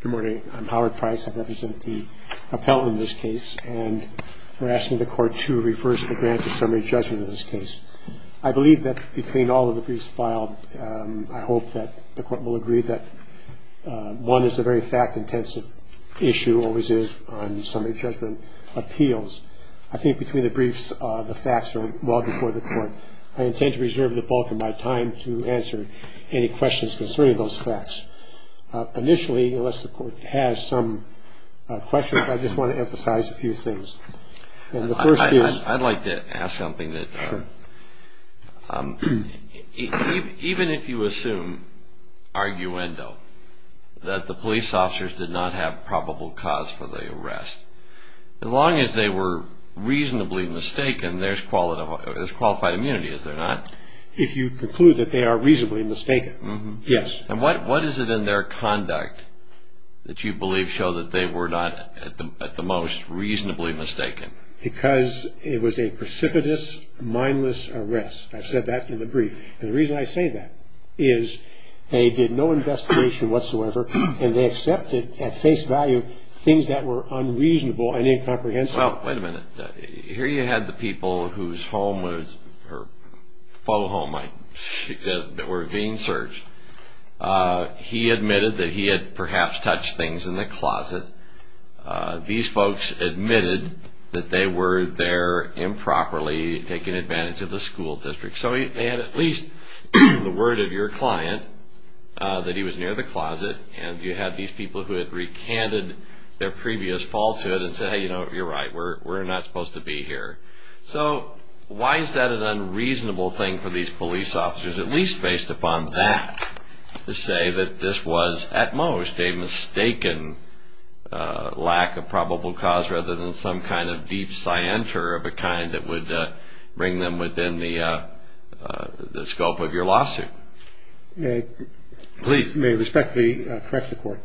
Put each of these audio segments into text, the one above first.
Good morning. I'm Howard Price. I represent the appellant in this case, and we're asking the court to reverse the grant to summary judgment in this case. I believe that between all of the briefs filed, I hope that the court will agree that one is a very fact-intensive issue, always is, on summary judgment appeals. I think between the briefs, the facts are well before the court. I intend to reserve the bulk of my time to answer any questions concerning those facts. Initially, unless the court has some questions, I just want to emphasize a few things. I'd like to ask something. Even if you assume, arguendo, that the police officers did not have probable cause for the arrest, as long as they were reasonably mistaken, there's qualified immunity, is there not? If you conclude that they are reasonably mistaken, yes. And what is it in their conduct that you believe show that they were not, at the most, reasonably mistaken? Because it was a precipitous, mindless arrest. I've said that in the brief. And the reason I say that is they did no investigation whatsoever, and they accepted, at face value, things that were unreasonable and incomprehensible. Well, wait a minute. Here you had the people whose home was, or faux home, I suggest, that were being searched. He admitted that he had perhaps touched things in the closet. These folks admitted that they were there improperly, taking advantage of the school district. So they had at least the word of your client that he was near the closet, and you had these people who had recanted their previous falsehood and said, hey, you know, you're right, we're not supposed to be here. So why is that an unreasonable thing for these police officers, at least based upon that, to say that this was, at most, a mistaken lack of probable cause, rather than some kind of deep scienter of a kind that would bring them within the scope of your lawsuit? May I respectfully correct the Court?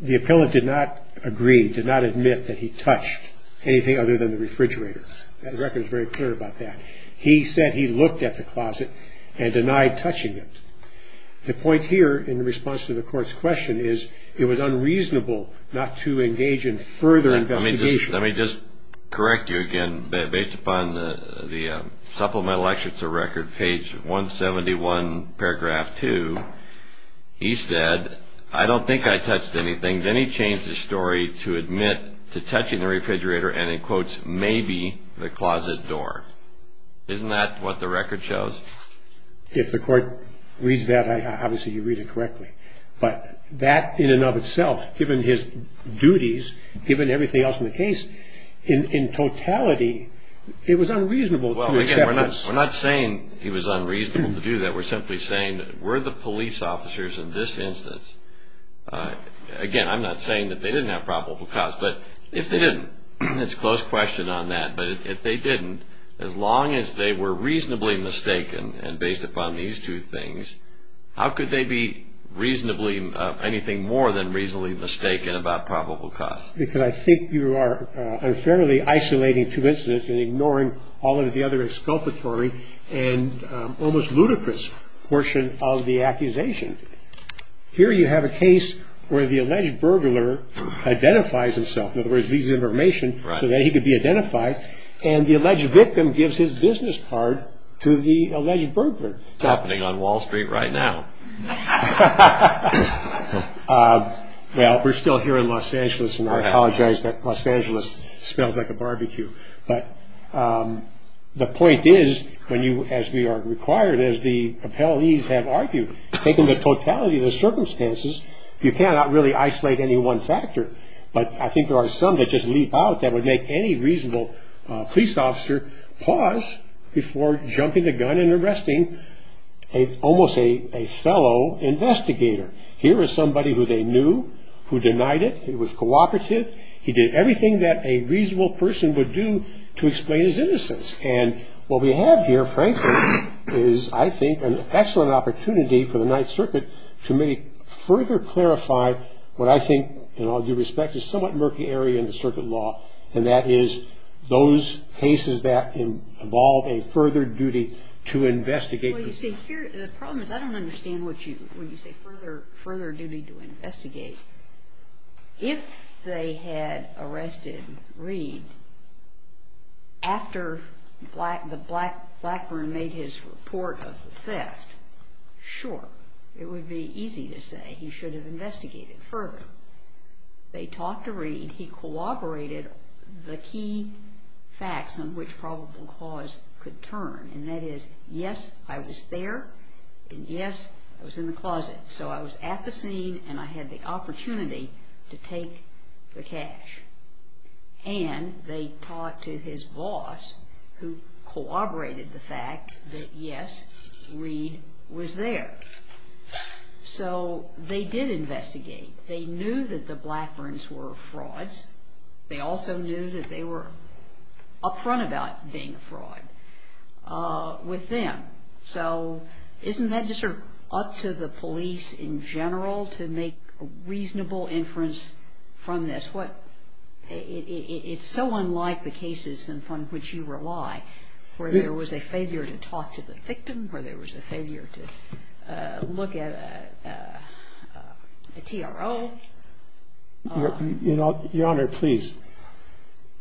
The appellate did not agree, did not admit that he touched anything other than the refrigerator. The record is very clear about that. He said he looked at the closet and denied touching it. The point here, in response to the Court's question, is it was unreasonable not to engage in further investigation. Let me just correct you again. Based upon the supplemental lecture to the record, page 171, paragraph 2, he said, I don't think I touched anything. Then he changed his story to admit to touching the refrigerator and, in quotes, maybe the closet door. Isn't that what the record shows? If the Court reads that, obviously you read it correctly. But that in and of itself, given his duties, given everything else in the case, in totality, it was unreasonable to accept this. Well, again, we're not saying he was unreasonable to do that. We're simply saying that were the police officers in this instance, again, I'm not saying that they didn't have probable cause, but if they didn't, it's a close question on that, but if they didn't, as long as they were reasonably mistaken and based upon these two things, how could they be reasonably, anything more than reasonably mistaken about probable cause? Because I think you are unfairly isolating coincidence and ignoring all of the other exculpatory and almost ludicrous portion of the accusation. Here you have a case where the alleged burglar identifies himself. In other words, leaves information so that he could be identified. And the alleged victim gives his business card to the alleged burglar. It's happening on Wall Street right now. Well, we're still here in Los Angeles, and I apologize that Los Angeles smells like a barbecue. But the point is, as we are required, as the appellees have argued, taking the totality of the circumstances, you cannot really isolate any one factor. But I think there are some that just leap out that would make any reasonable police officer pause before jumping the gun and arresting almost a fellow investigator. Here is somebody who they knew, who denied it. He was cooperative. He did everything that a reasonable person would do to explain his innocence. And what we have here, frankly, is, I think, an excellent opportunity for the Ninth Circuit to maybe further clarify what I think, in all due respect, is somewhat murky area in the circuit law, and that is those cases that involve a further duty to investigate. Well, you see, the problem is I don't understand when you say further duty to investigate. If they had arrested Reed after Blackburn made his report of the theft, sure, it would be easy to say he should have investigated further. They talked to Reed. He collaborated the key facts on which probable cause could turn, and that is, yes, I was there, and yes, I was in the closet. So I was at the scene, and I had the opportunity to take the cash. And they talked to his boss, who cooperated the fact that, yes, Reed was there. So they did investigate. They knew that the Blackburns were frauds. They also knew that they were up front about being a fraud with them. So isn't that just sort of up to the police in general to make a reasonable inference from this? It's so unlike the cases in front of which you rely, where there was a failure to talk to the victim, where there was a failure to look at a TRO. Your Honor, please,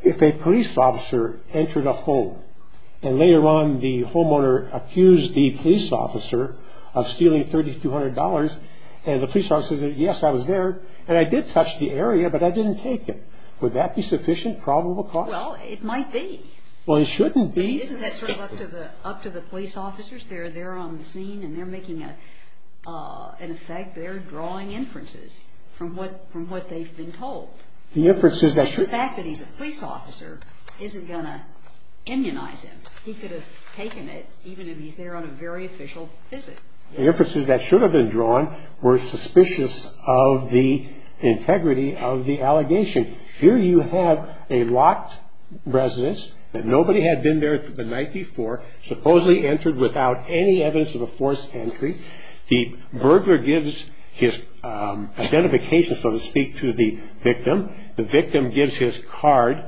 if a police officer entered a home, and later on the homeowner accused the police officer of stealing $3,200, and the police officer said, yes, I was there, and I did touch the area, but I didn't take it, would that be sufficient probable cause? Well, it might be. Well, it shouldn't be. Isn't that sort of up to the police officers? They're there on the scene, and they're making an effect. They're drawing inferences from what they've been told. The fact that he's a police officer isn't going to immunize him. He could have taken it, even if he's there on a very official visit. The inferences that should have been drawn were suspicious of the integrity of the allegation. Here you have a locked residence, and nobody had been there the night before, supposedly entered without any evidence of a forced entry. The burglar gives his identification, so to speak, to the victim. The victim gives his card.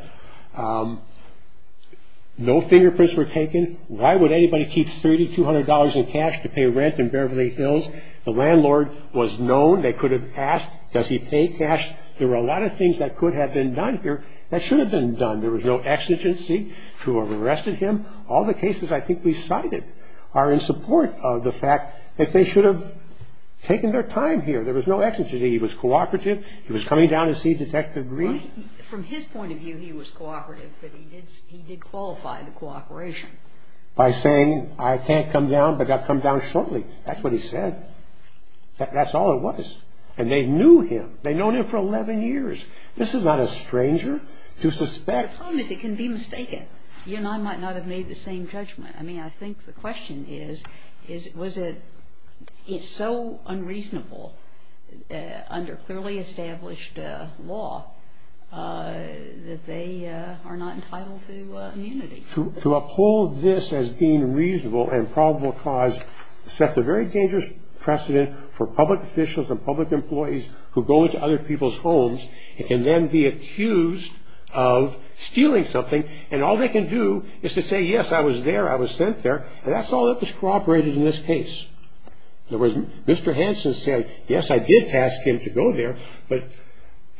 No fingerprints were taken. Why would anybody keep $3,200 in cash to pay rent in Beverly Hills? The landlord was known. They could have asked, does he pay cash? There were a lot of things that could have been done here that should have been done. There was no exigency to have arrested him. All the cases I think we cited are in support of the fact that they should have taken their time here. There was no exigency. He was cooperative. He was coming down to see Detective Green. From his point of view, he was cooperative, but he did qualify the cooperation. By saying, I can't come down, but I'll come down shortly. That's what he said. That's all it was. And they knew him. They'd known him for 11 years. This is not a stranger to suspect. You and I might not have made the same judgment. I mean, I think the question is, was it so unreasonable under clearly established law that they are not entitled to immunity? To uphold this as being reasonable and probable cause sets a very dangerous precedent for public officials and public employees who go into other people's homes and then be accused of stealing something, and all they can do is to say, yes, I was there. I was sent there. And that's all that was cooperated in this case. In other words, Mr. Hansen said, yes, I did ask him to go there, but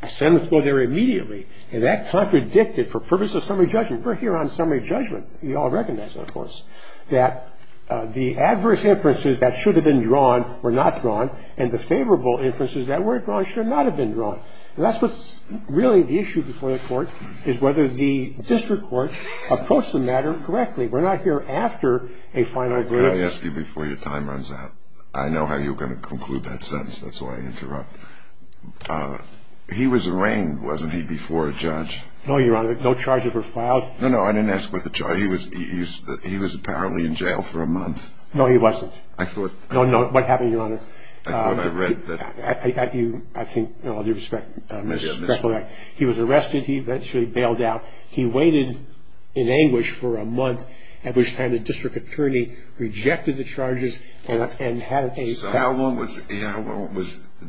I sent him to go there immediately. And that contradicted for purposes of summary judgment. We're here on summary judgment. We all recognize that, of course, that the adverse inferences that should have been drawn were not drawn, and the favorable inferences that were drawn should not have been drawn. And that's what's really the issue before the court, is whether the district court approached the matter correctly. We're not here after a final agreement. Can I ask you before your time runs out? I know how you're going to conclude that sentence. That's why I interrupt. He was arraigned, wasn't he, before a judge? No, Your Honor. No charges were filed. No, no, I didn't ask about the charge. He was apparently in jail for a month. No, he wasn't. I thought. No, no. What happened, Your Honor? I thought I read that. I think, with all due respect, Mr. Kroek. He was arrested. He eventually bailed out. He waited in anguish for a month, at which time the district attorney rejected the charges and had a... So how long was...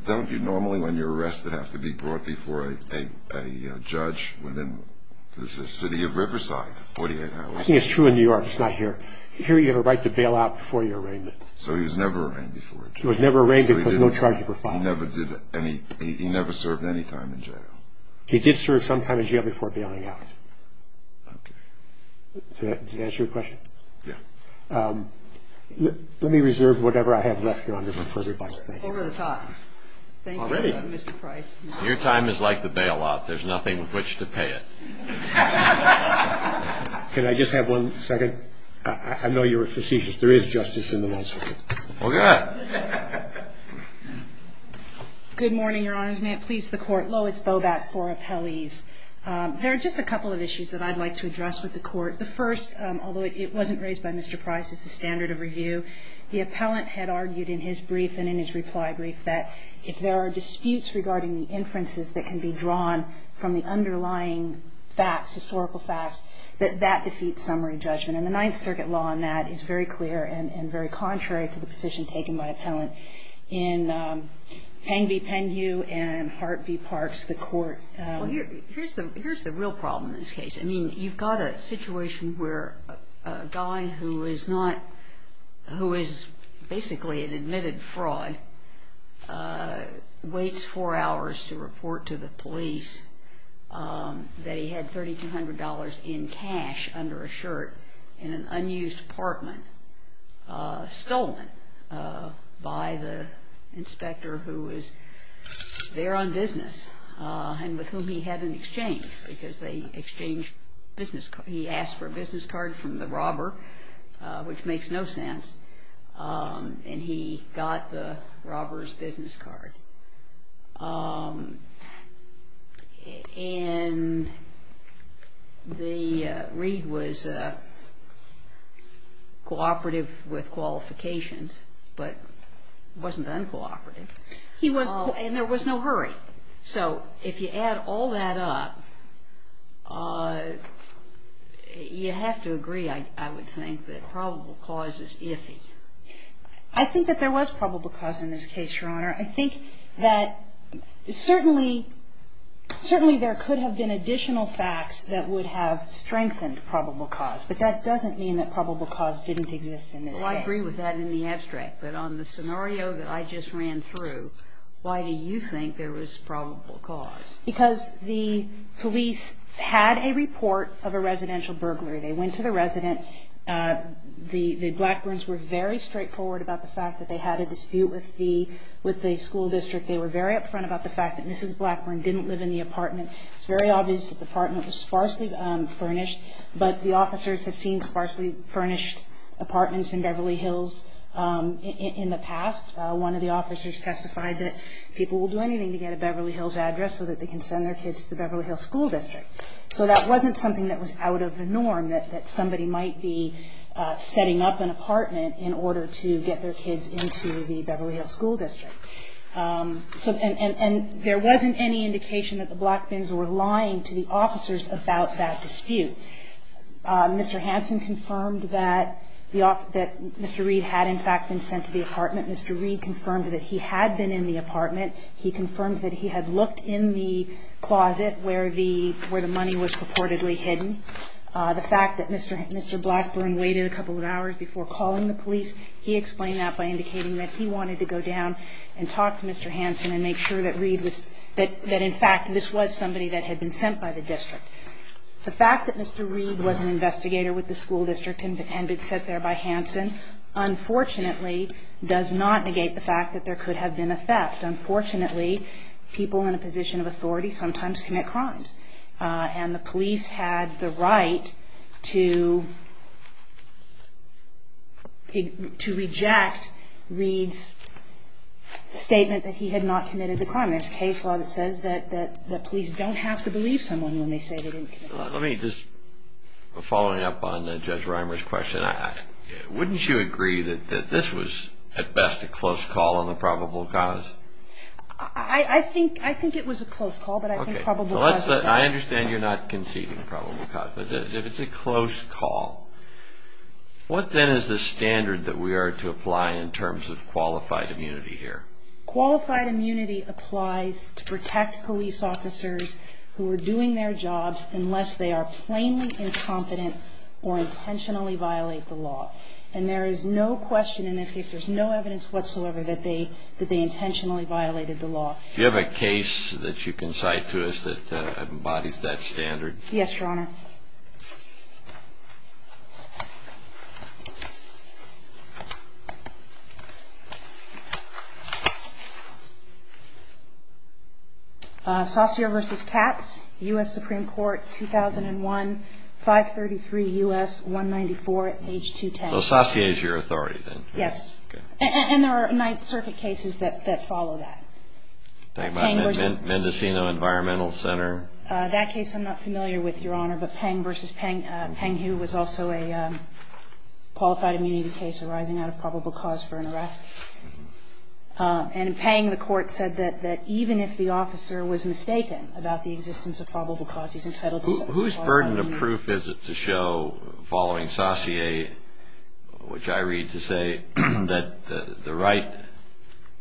Don't you normally, when you're arrested, have to be brought before a judge within the city of Riverside, 48 hours? I think it's true in New York. It's not here. Here you have a right to bail out before your arraignment. So he was never arraigned before a judge. He was never arraigned because no charges were filed. He never did any... He never served any time in jail. He did serve some time in jail before bailing out. Okay. Did that answer your question? Yeah. Let me reserve whatever I have left, Your Honor, for further debate. Over the top. Already? Thank you, Mr. Price. Your time is like the bailout. There's nothing with which to pay it. Can I just have one second? I know you're facetious. There is justice in the Ninth Circuit. Okay. Good morning, Your Honors. May it please the Court. Lois Bobat for appellees. There are just a couple of issues that I'd like to address with the Court. The first, although it wasn't raised by Mr. Price as the standard of review, the appellant had argued in his brief and in his reply brief that if there are disputes regarding the inferences that can be drawn from the underlying facts, historical facts, that that defeats summary judgment. And the Ninth Circuit law on that is very clear and very contrary to the position taken by appellant in Pengvi Penghu and Hart v. Parks, the court. Well, here's the real problem in this case. I mean, you've got a situation where a guy who is basically an admitted fraud waits four hours to report to the police that he had $3,200 in cash under a shirt in an unused apartment stolen by the inspector who was there on business and with whom he had an exchange because they exchanged business cards. He asked for a business card from the robber, which makes no sense, and he got the robber's business card. And the read was cooperative with qualifications, but it wasn't uncooperative. He was cooperative. And there was no hurry. So if you add all that up, you have to agree, I would think, that probable cause is iffy. I think that there was probable cause in this case, Your Honor. I think that certainly there could have been additional facts that would have strengthened probable cause. But that doesn't mean that probable cause didn't exist in this case. Well, I agree with that in the abstract. But on the scenario that I just ran through, why do you think there was probable cause? Because the police had a report of a residential burglary. They went to the resident. The Blackburns were very straightforward about the fact that they had a dispute with the school district. They were very upfront about the fact that Mrs. Blackburn didn't live in the apartment. It's very obvious that the apartment was sparsely furnished, but the officers have seen sparsely furnished apartments in Beverly Hills in the past. One of the officers testified that people will do anything to get a Beverly Hills address so that they can send their kids to the Beverly Hills School District. So that wasn't something that was out of the norm, that somebody might be setting up an apartment in order to get their kids into the Beverly Hills School District. And there wasn't any indication that the Blackburns were lying to the officers about that dispute. Mr. Hansen confirmed that Mr. Reed had, in fact, been sent to the apartment. Mr. Reed confirmed that he had been in the apartment. He confirmed that he had looked in the closet where the money was purportedly hidden. The fact that Mr. Blackburn waited a couple of hours before calling the police, he explained that by indicating that he wanted to go down and talk to Mr. Hansen and make sure that in fact this was somebody that had been sent by the district. The fact that Mr. Reed was an investigator with the school district and had been sent there by Hansen unfortunately does not negate the fact that there could have been a theft. Unfortunately, people in a position of authority sometimes commit crimes. And the police had the right to reject Reed's statement that he had not committed the crime. There's case law that says that police don't have to believe someone when they say they didn't commit the crime. Let me just, following up on Judge Reimer's question, wouldn't you agree that this was at best a close call on the probable cause? I think it was a close call, but I think probable cause is better. I understand you're not conceding probable cause, but if it's a close call, what then is the standard that we are to apply in terms of qualified immunity here? Qualified immunity applies to protect police officers who are doing their jobs unless they are plainly incompetent or intentionally violate the law. And there is no question in this case, there's no evidence whatsoever that they intentionally violated the law. Do you have a case that you can cite to us that embodies that standard? Yes, Your Honor. Saussure v. Katz, U.S. Supreme Court, 2001, 533 U.S. 194, page 210. Well, Saussure is your authority, then? Yes. Okay. And there are Ninth Circuit cases that follow that. Like Mendocino Environmental Center? That case I'm not familiar with, Your Honor, but Pang v. Katz. Pang, who was also a qualified immunity case arising out of probable cause for an arrest, and in Pang the Court said that even if the officer was mistaken about the existence of probable cause, he's entitled to some type of immunity. Whose burden of proof is it to show, following Saussure, which I read to say that the right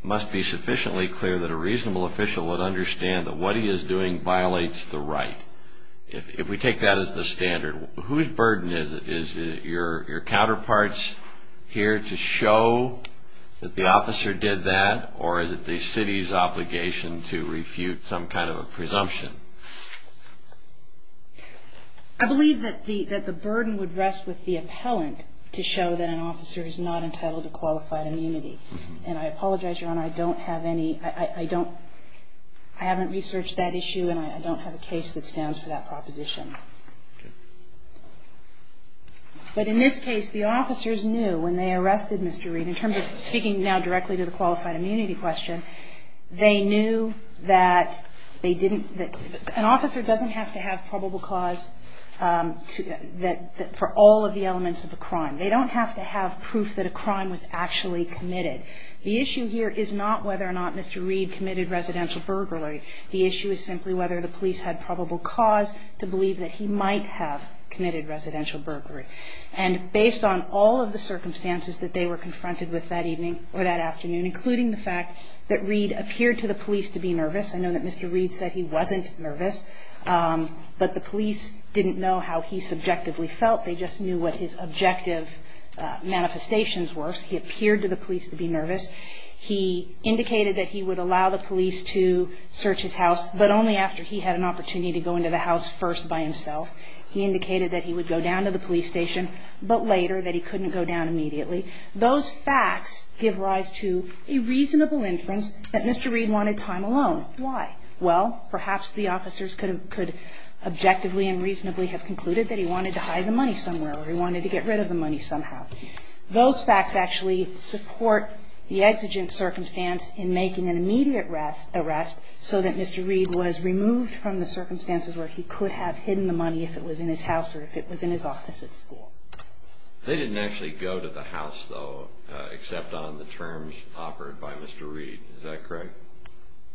must be sufficiently clear that a reasonable official would understand that what he is doing violates the right? If we take that as the standard, whose burden is it? Is it your counterparts here to show that the officer did that, or is it the city's obligation to refute some kind of a presumption? I believe that the burden would rest with the appellant to show that an officer is not entitled to qualified immunity. And I apologize, Your Honor, I don't have any, I don't, I haven't researched that issue, and I don't have a case that stands for that proposition. But in this case, the officers knew when they arrested Mr. Reid, in terms of speaking now directly to the qualified immunity question, they knew that they didn't, an officer doesn't have to have probable cause for all of the elements of the crime. They don't have to have proof that a crime was actually committed. The issue here is not whether or not Mr. Reid committed residential burglary. The issue is simply whether the police had probable cause to believe that he might have committed residential burglary. And based on all of the circumstances that they were confronted with that evening or that afternoon, including the fact that Reid appeared to the police to be nervous – I know that Mr. Reid said he wasn't nervous, but the police didn't know how he subjectively felt. They just knew what his objective manifestations were. He appeared to the police to be nervous. He indicated that he would allow the police to search his house, but only after he had an opportunity to go into the house first by himself. He indicated that he would go down to the police station, but later that he couldn't go down immediately. Those facts give rise to a reasonable inference that Mr. Reid wanted time alone. Why? Well, perhaps the officers could have, could objectively and reasonably have concluded that he wanted to hide the money somewhere or he wanted to get rid of the money somehow. Those facts actually support the exigent circumstance in making an immediate arrest so that Mr. Reid was removed from the circumstances where he could have hidden the money if it was in his house or if it was in his office at school. They didn't actually go to the house, though, except on the terms offered by Mr. Reid. Is that correct?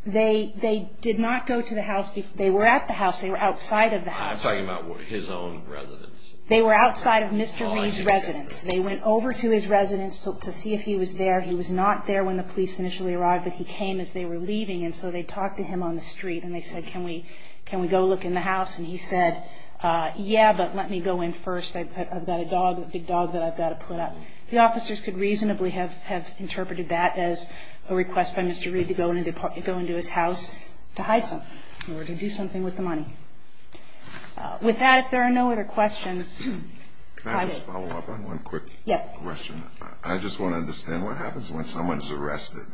They did not go to the house. They were at the house. They were outside of the house. I'm talking about his own residence. They were outside of Mr. Reid's residence. They went over to his residence to see if he was there. He was not there when the police initially arrived, but he came as they were leaving, and so they talked to him on the street and they said, can we go look in the house? And he said, yeah, but let me go in first. I've got a dog, a big dog that I've got to put up. The officers could reasonably have interpreted that as a request by Mr. Reid to go into his house to hide something or to do something with the money. With that, if there are no other questions, I will. Can I just follow up on one quick question? Yes. I just want to understand what happens when someone is arrested.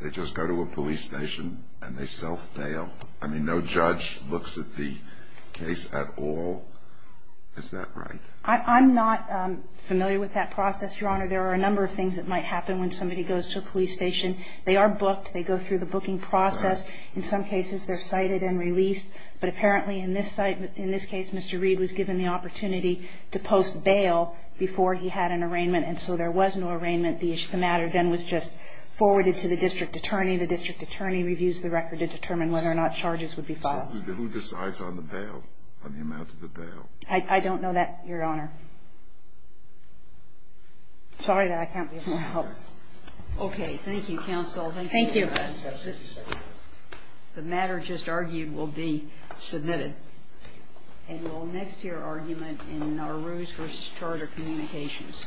They just go to a police station and they self-bail. I mean, no judge looks at the case at all. Is that right? I'm not familiar with that process, Your Honor. There are a number of things that might happen when somebody goes to a police station. They are booked. They go through the booking process. In some cases, they're cited and released. But apparently in this case, Mr. Reid was given the opportunity to post bail before he had an arraignment, and so there was no arraignment. The matter then was just forwarded to the district attorney. The district attorney reviews the record to determine whether or not charges would be filed. Who decides on the bail, on the amount of the bail? I don't know that, Your Honor. Sorry that I can't be of more help. Okay. Thank you, counsel. Thank you. The matter just argued will be submitted. And we'll next hear argument in Naruse v. Charter Communications. Thank you.